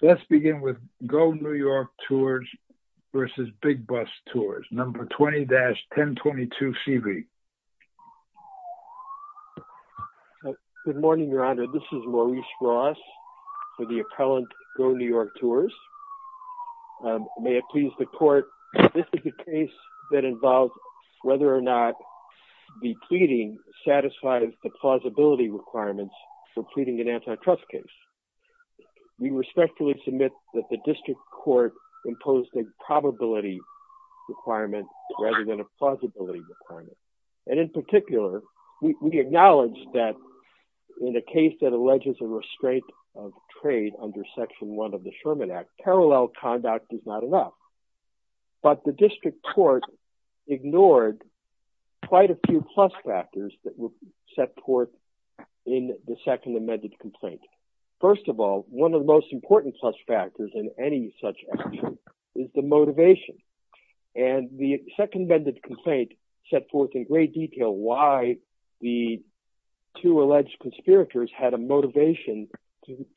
Let's begin with Go New York Tours v. Big Bus Tours, No. 20-1022CB. Good morning, Your Honor. This is Maurice Ross for the appellant Go New York Tours. May it please the court, this is a case that involves whether or not the pleading satisfies the plausibility requirements for pleading an antitrust case. We respectfully submit that the district court imposed a probability requirement rather than a plausibility requirement. And in particular, we acknowledge that in a case that alleges a restraint of trade under Section 1 of the Sherman Act, parallel conduct is not enough. But the district court ignored quite a few plus factors that were set forth in the second amended complaint. First of all, one of the most important plus factors in any such action is the motivation. And the second amended complaint set forth in great detail why the two alleged conspirators had a motivation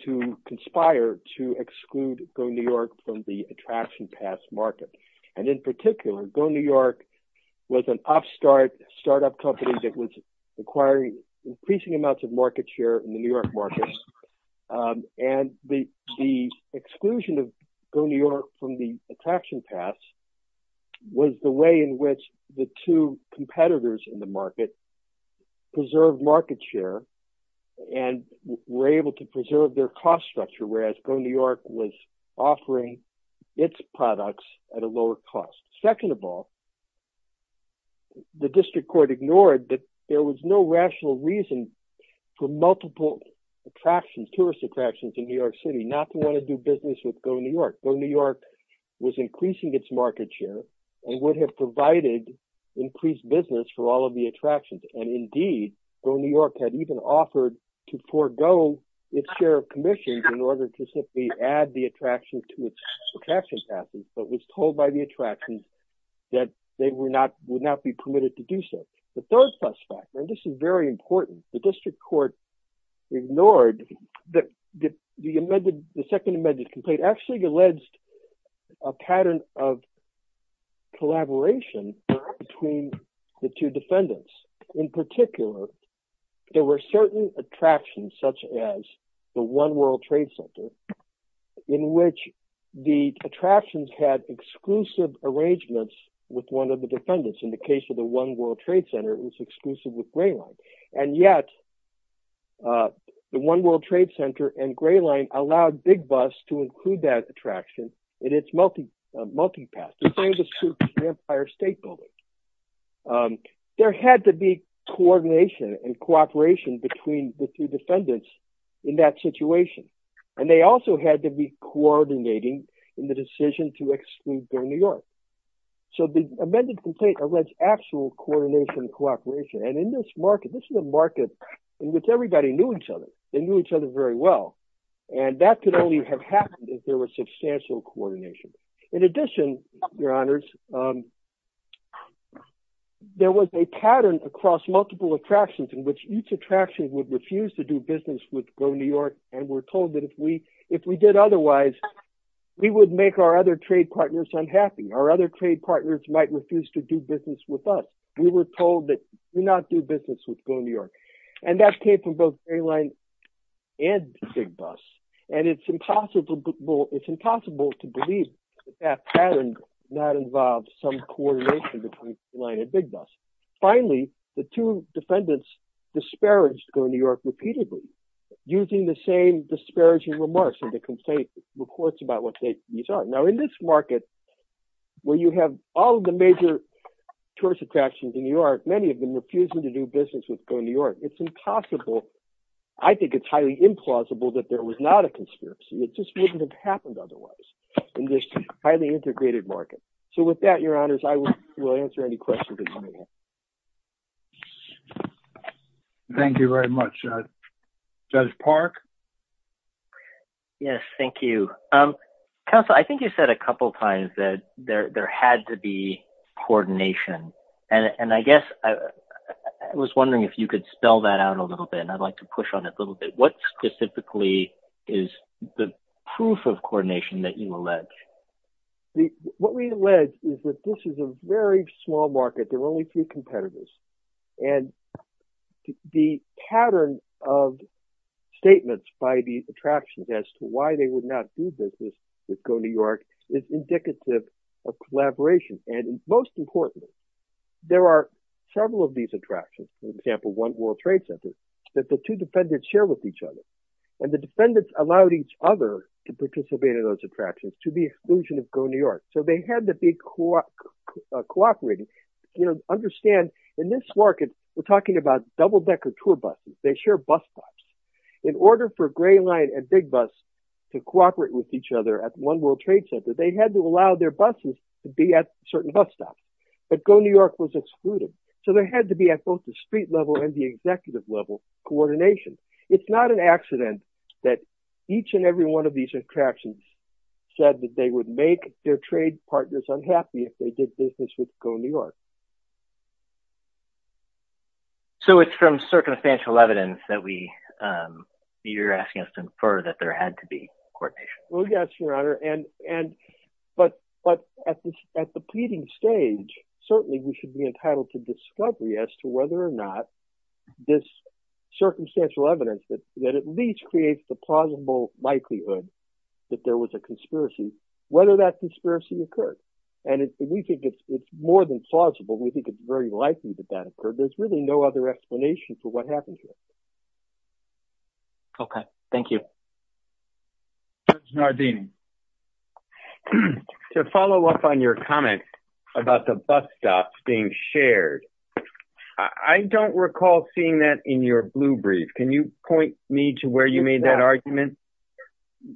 to conspire to exclude Go New York from the attraction pass market. And in particular, Go New York was an upstart startup company that was acquiring increasing amounts of market share in the New York market. And the exclusion of Go New York from the attraction pass was the way in which the two competitors in the market preserved market share and were able to preserve their cost structure, whereas Go New York was offering its products at a lower cost. Second of all, the district court ignored that there was no rational reason for multiple attractions, tourist attractions in New York City not to want to do business with Go New York. Go New York was increasing its market share and would have provided increased business for all of the attractions. And indeed, Go New York had even offered to forego its share of commissions in order to simply add the attraction to its attraction passes, but was told by the attraction that they would not be permitted to do so. The third plus factor, and this is very important, the district court ignored that the second amended complaint actually alleged a pattern of collaboration between the two defendants. In particular, there were certain attractions such as the One World Trade Center, in which the attractions had exclusive arrangements with one of the defendants. In the case of the One World Trade Center, it was exclusive with Gray Line. And yet, the One World Trade Center and Gray Line allowed Big Bus to include that attraction in its multi-pass. The same was true for the Empire State Building. There had to be coordination and cooperation between the two defendants in that situation. And they also had to be coordinating in the decision to exclude Go New York. So the amended complaint alleged actual coordination and cooperation. And in this market, this is a market in which everybody knew each other. They knew each other very well. And that could only have happened if there was substantial coordination. In addition, your honors, there was a pattern across multiple attractions in which each attraction would refuse to do business with Go New York. And we're told that if we did otherwise, we would make our other trade partners unhappy. Our other trade partners might refuse to do business with us. We were told that do not do business with Go New York. And that came from Gray Line and Big Bus. And it's impossible to believe that that pattern did not involve some coordination between Gray Line and Big Bus. Finally, the two defendants disparaged Go New York repeatedly using the same disparaging remarks in the complaint reports about what these are. Now, in this market, where you have all of the major tourist attractions in New York, many of them refuse to do business with Go New York. It's impossible. I think it's highly implausible that there was not a conspiracy. It just wouldn't have happened otherwise in this highly integrated market. So with that, your honors, I will answer any questions. Thank you very much, Judge Park. Yes, thank you. Counsel, I think you said a couple of times that there had to be coordination. And I guess I was wondering if you could spell that out a little bit, and I'd like to push on it a little bit. What specifically is the proof of coordination that you allege? What we allege is that this is a very small market. There are only a few competitors. And the pattern of statements by these attractions as to why they would not do business with Go New York. There are several of these attractions, for example, One World Trade Center, that the two defendants share with each other. And the defendants allowed each other to participate in those attractions to the illusion of Go New York. So they had to be cooperating. You know, understand in this market, we're talking about double-decker tour buses. They share bus stops. In order for Gray Line and Big Bus to cooperate with each other at One World Trade Center, they had to allow their So there had to be at both the street level and the executive level coordination. It's not an accident that each and every one of these attractions said that they would make their trade partners unhappy if they did business with Go New York. So it's from circumstantial evidence that you're asking us to infer that there had to be coordination. Well, yes, Your Honor. And but at the pleading stage, certainly we should be entitled to discovery as to whether or not this circumstantial evidence that at least creates the plausible likelihood that there was a conspiracy, whether that conspiracy occurred. And we think it's more than plausible. We think it's very likely that that occurred. There's really no other explanation for what happened here. Okay. Thank you. Judge Nardini. To follow up on your comment about the bus stops being shared, I don't recall seeing that in your blue brief. Can you point me to where you made that argument?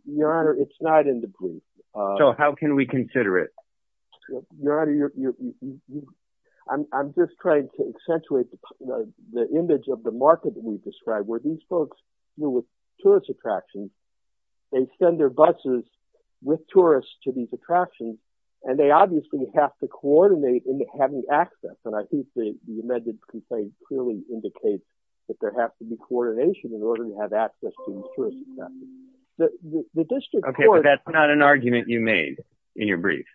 Your Honor, it's not in the brief. So how can we consider it? Your Honor, I'm just trying to accentuate the image of the market that we've described where these folks deal with tourist attractions. They send their buses with tourists to these attractions and they obviously have to coordinate in having access. And I think the amended complaint clearly indicates that there has to be coordination in order to have access to these tourist attractions. The district court- Okay, but that's not an argument you made in your brief.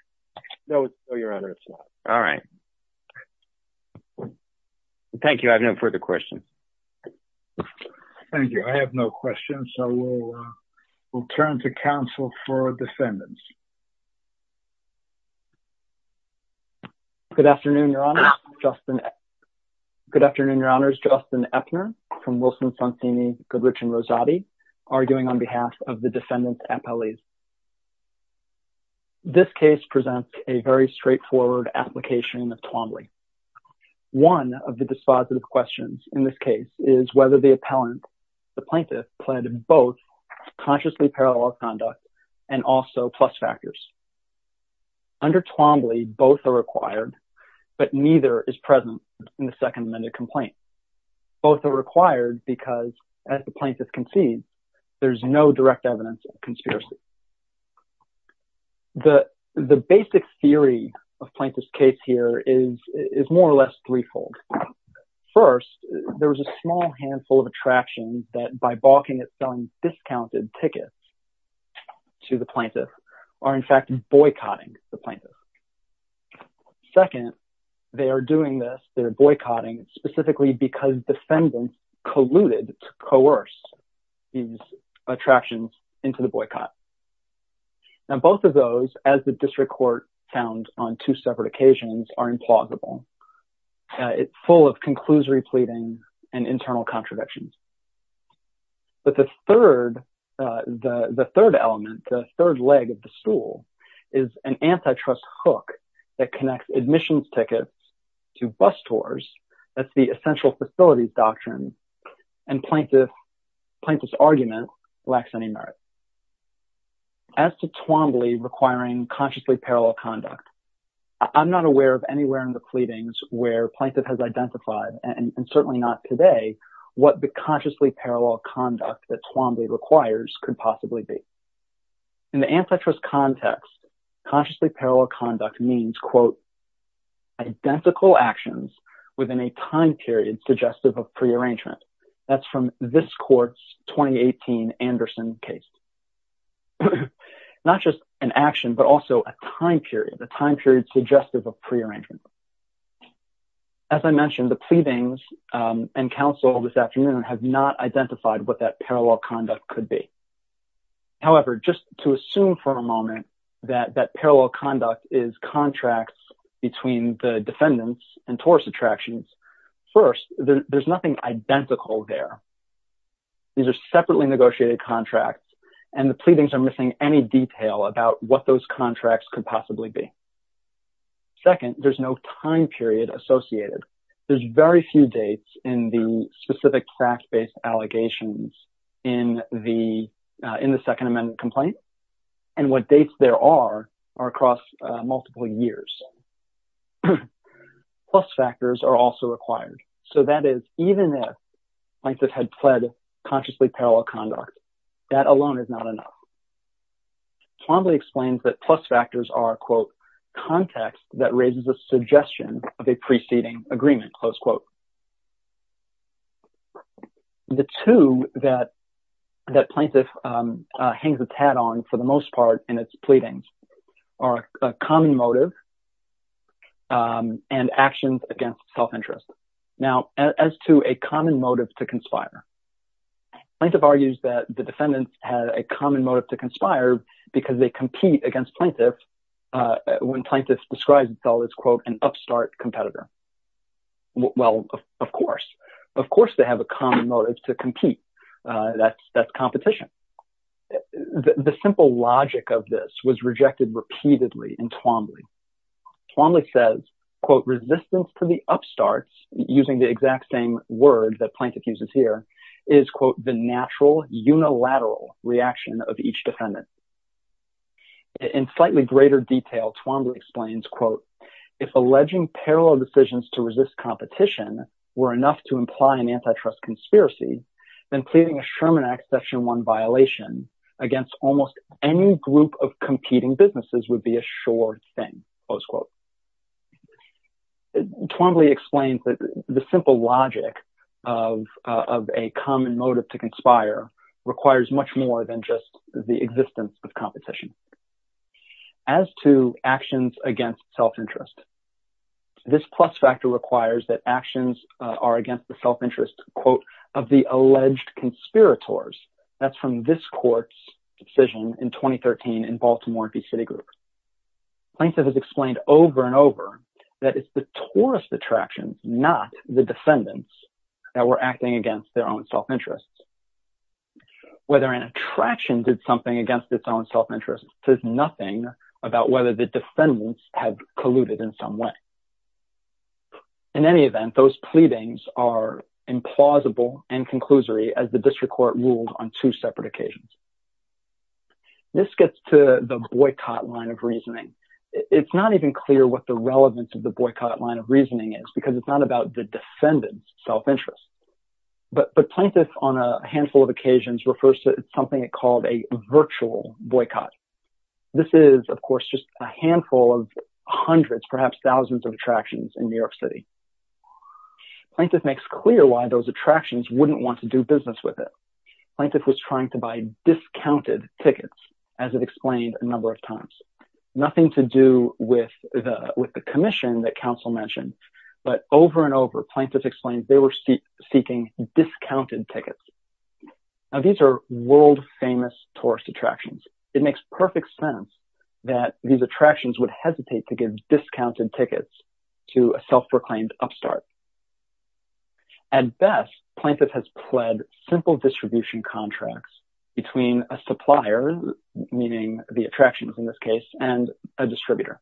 No, Your Honor, it's not. All right. Thank you. I have no further questions. Thank you. I have no questions. So we'll turn to counsel for defendants. Good afternoon, Your Honor. Good afternoon, Your Honors. Justin Eppner from Wilson, Goodrich, and Rosati, arguing on behalf of the defendant's appellees. This case presents a very straightforward application of Twombly. One of the dispositive questions in this case is whether the plaintiff pled both consciously parallel conduct and also plus factors. Under Twombly, both are required, but neither is present in the second amended complaint. Both are required because as the plaintiff concedes, there's no direct evidence of conspiracy. The basic theory of plaintiff's case here is more or less threefold. First, there was a small handful of attractions that by balking at selling discounted tickets to the plaintiff are in fact boycotting the plaintiff. Second, they are doing this, they're boycotting specifically because defendants colluded to coerce these attractions into the boycott. Now, both of those, as the district court found on two separate occasions, are implausible. It's full of conclusory pleading and internal contradictions. But the third element, the third leg of the stool is an antitrust hook that connects admissions tickets to bus tours, that's the essential facilities doctrine, and plaintiff's argument lacks any merit. As to Twombly requiring consciously parallel conduct, I'm not aware of anywhere in the pleadings where plaintiff has identified, and certainly not today, what the consciously parallel conduct that Twombly requires could possibly be. In the antitrust context, consciously parallel conduct means, quote, identical actions within a time period suggestive of prearrangement. That's from this court's 2018 Anderson case. Not just an action, but also a time period, a time period suggestive of prearrangement. As I mentioned, the pleadings and counsel this afternoon have not identified what that just to assume for a moment that that parallel conduct is contracts between the defendants and tourist attractions. First, there's nothing identical there. These are separately negotiated contracts, and the pleadings are missing any detail about what those contracts could possibly be. Second, there's no time period associated. There's very few dates in the specific fact-based allegations in the Second Amendment complaint, and what dates there are, are across multiple years. Plus factors are also required. So that is, even if plaintiff had pled consciously parallel conduct, that alone is not enough. Twombly explains that plus factors are, quote, context that raises a suggestion of a preceding agreement, close quote. The two that plaintiff hangs its hat on, for the most part, in its pleadings are a common motive and actions against self-interest. Now, as to a common motive to conspire, plaintiff argues that the defendants had a common motive to conspire because they compete against plaintiff when upstart competitor. Well, of course. Of course, they have a common motive to compete. That's competition. The simple logic of this was rejected repeatedly in Twombly. Twombly says, quote, resistance to the upstarts, using the exact same word that plaintiff uses here, is, quote, the natural unilateral reaction of each defendant. In slightly greater detail, Twombly explains, quote, if alleging parallel decisions to resist competition were enough to imply an antitrust conspiracy, then pleading a Sherman Act Section 1 violation against almost any group of competing businesses would be a sure thing, close quote. Twombly explains that the simple logic of a common motive to conspire requires much more than just the existence of actions against self-interest. This plus factor requires that actions are against the self-interest, quote, of the alleged conspirators. That's from this court's decision in 2013 in Baltimore v. Citigroup. Plaintiff has explained over and over that it's the tourist attraction, not the defendants, that were acting against their own self-interests. Whether an attraction did something against its own self-interest says nothing about whether the defendants have colluded in some way. In any event, those pleadings are implausible and conclusory, as the district court ruled on two separate occasions. This gets to the boycott line of reasoning. It's not even clear what the relevance of the boycott line of reasoning is, because it's not about the defendant's self-interest. But plaintiff, on a handful of occasions, refers to something called a virtual boycott. This is, of course, just a handful of hundreds, perhaps thousands, of attractions in New York City. Plaintiff makes clear why those attractions wouldn't want to do business with it. Plaintiff was trying to buy discounted tickets, as it explained a number of times. Nothing to do with the commission that counsel mentioned, but over and over plaintiff explains they were seeking discounted tickets. Now, these are world-famous tourist attractions. It makes perfect sense that these attractions would hesitate to give discounted tickets to a self-proclaimed upstart. At best, plaintiff has pled simple distribution contracts between a supplier, meaning the attractions in this case, and a distributor.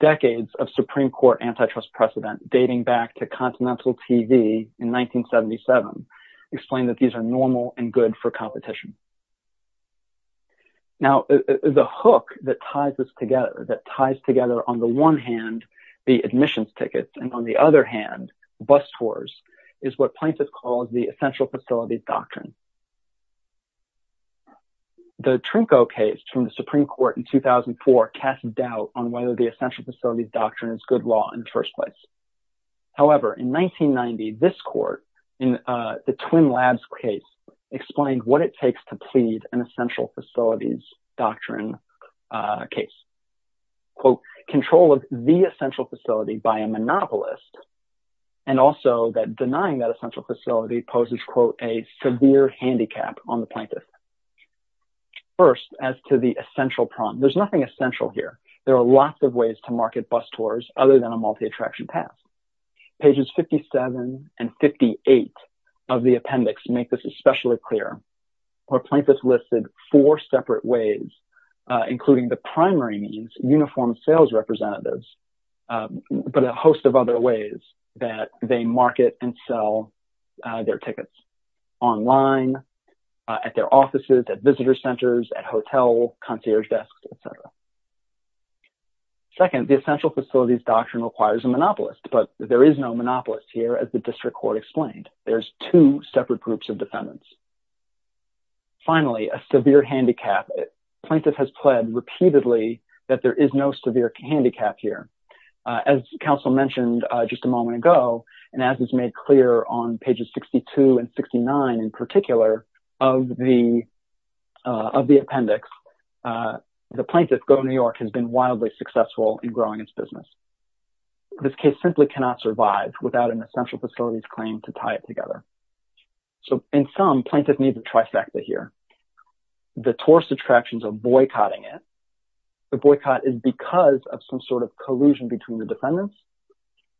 Decades of Supreme Court antitrust precedent, dating back to Continental TV in 1977, explain that these are normal and good for competition. Now, the hook that ties this together, that ties together, on the one hand, the admissions tickets, and on the other hand, bus tours, is what plaintiff calls the essential facilities doctrine. The Trimco case from the Supreme Court in 2004 cast doubt on whether the essential facilities doctrine is good law in the first place. However, in 1990, this court, in the Twin Labs case, explained what it takes to plead an essential facilities doctrine case. Quote, control of the essential facility by a monopolist, and also that denying that essential facility poses, quote, a severe handicap on the plaintiff. First, as to the essential problem, there's nothing essential here. There are lots of ways to market bus tours other than a multi-attraction pass. Pages 57 and 58 of the appendix make this especially clear, where plaintiff's listed four separate ways, including the primary means, uniform sales representatives, but a host of other ways that they market and sell their tickets online, at their offices, at visitor centers, at hotel concierge desks, et cetera. Second, the essential facilities doctrine requires a monopolist, but there is no monopolist here, as the district court explained. There's two separate groups of defendants. Finally, a severe handicap. Plaintiff has pled repeatedly that there is no severe handicap here. As counsel mentioned just a moment ago, and as is made clear on pages 62 and 69, in particular, of the appendix, the plaintiff, Go New York, has been wildly successful in growing its business. This case simply cannot survive without an essential facilities claim to tie it together. So, in sum, plaintiff needs a trifecta here. The tourist attractions are boycotting it. The boycott is because of some sort of collusion between the defendants,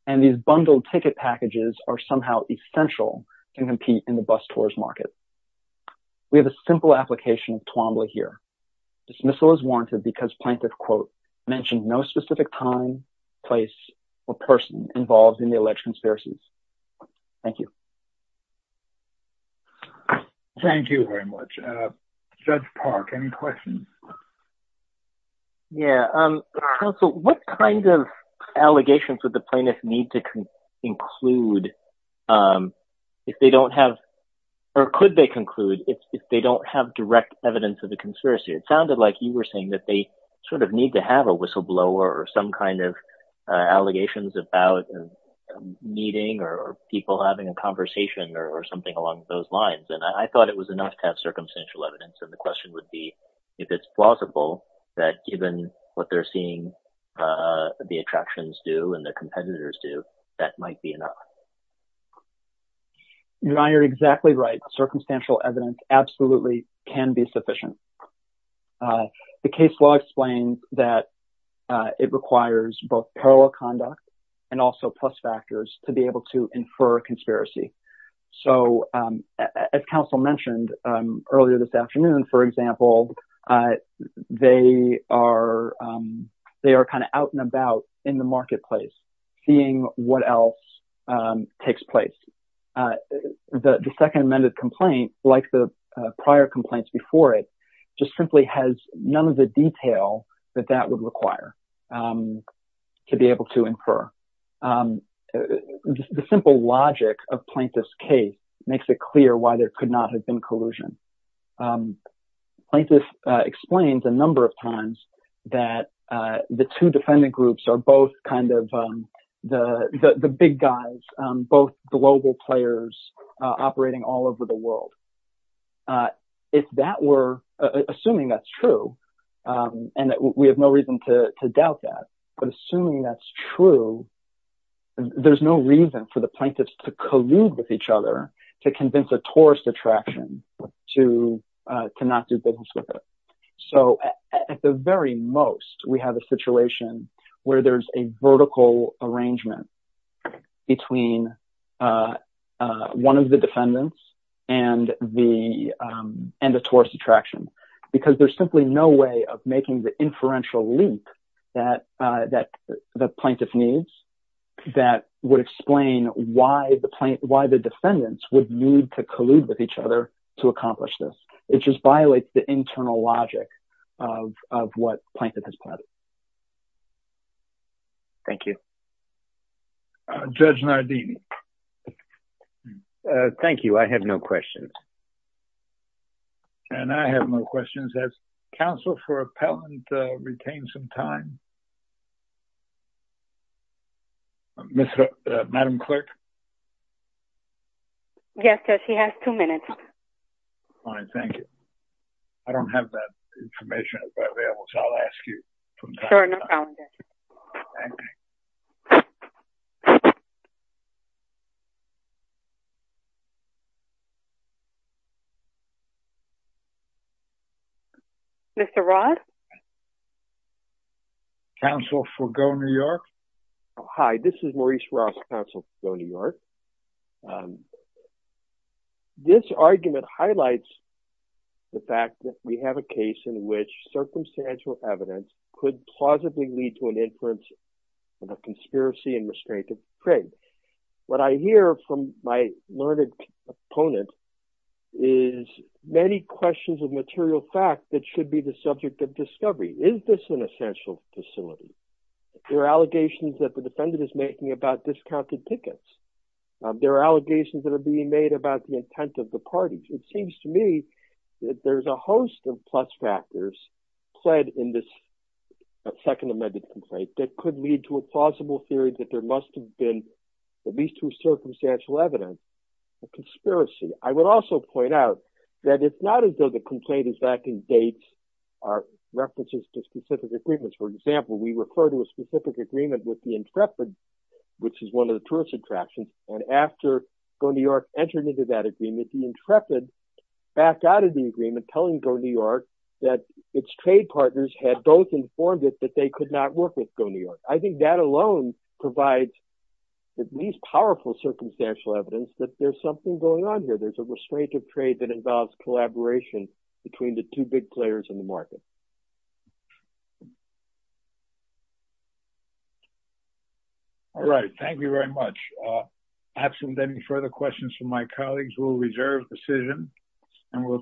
and these bundled ticket packages are somehow essential to compete in the bus tourist market. We have a simple application of Twombly here. Dismissal is warranted because plaintiff, quote, mentioned no specific time, place, or person involved in the alleged conspiracies. Thank you. Thank you very much. Judge Park, any questions? Yeah. Counsel, what kind of allegations would the plaintiff need to include if they don't have, or could they conclude if they don't have direct evidence of the conspiracy? It sounded like you were saying that they sort of need to have a whistleblower or some kind of allegations about a meeting or people having a conversation or something along those lines, and I thought it was enough to have circumstantial evidence, and the question would be if it's plausible that given what they're seeing the attractions do and the competitors do, that might be enough. You know, you're exactly right. Circumstantial evidence absolutely can be sufficient. The case law explains that it requires both parallel conduct and also plus factors to be able to infer a conspiracy. So, as counsel mentioned earlier this afternoon, for example, they are kind of out and about in the marketplace seeing what else takes place. The second amended complaint, like the prior complaints before it, just simply has none of the detail that that would require to be able to infer. The simple logic of plaintiff's case makes it clear why there could not have been collusion. Plaintiff explains a number of times that the two defendant groups are both kind of the big guys, both global players operating all over the world. Assuming that's true, and we have no reason to doubt that, but assuming that's true, there's no reason for the plaintiffs to collude with each other to convince a tourist attraction to not do business with it. So, at the very most, we have a situation where there's a vertical arrangement between one of the defendants and the tourist attraction, because there's simply no way of making the why the defendants would need to collude with each other to accomplish this. It just violates the internal logic of what plaintiff has plotted. Thank you. Judge Nardini. Thank you. I have no questions. And I have no questions. Has counsel for appellant retained some time? Madam Clerk? Yes, Judge. He has two minutes. Fine. Thank you. I don't have that information available, so I'll ask you. Mr. Ross? Counsel for Go New York? Hi, this is Maurice Ross, counsel for Go New York. This argument highlights the fact that we have a case in which circumstantial evidence could plausibly lead to an inference of a conspiracy and restraint of trade. What I hear from my learned opponent is many questions of material fact that should be the subject of your allegations that the defendant is making about discounted tickets. There are allegations that are being made about the intent of the parties. It seems to me that there's a host of plus factors played in this second amended complaint that could lead to a plausible theory that there must have been at least two circumstantial evidence of conspiracy. I would also point out that it's not as though the complaint is back in dates or references to specific agreements. For example, we refer to a specific agreement with the Intrepid, which is one of the tourist attractions, and after Go New York entered into that agreement, the Intrepid backed out of the agreement telling Go New York that its trade partners had both informed it that they could not work with Go New York. I think that alone provides at least powerful circumstantial evidence that there's something going on here. There's a restraint of trade that involves collaboration between the two big players in the market. All right. Thank you very much. Absent any further questions from my colleagues, we'll reserve the decision and we'll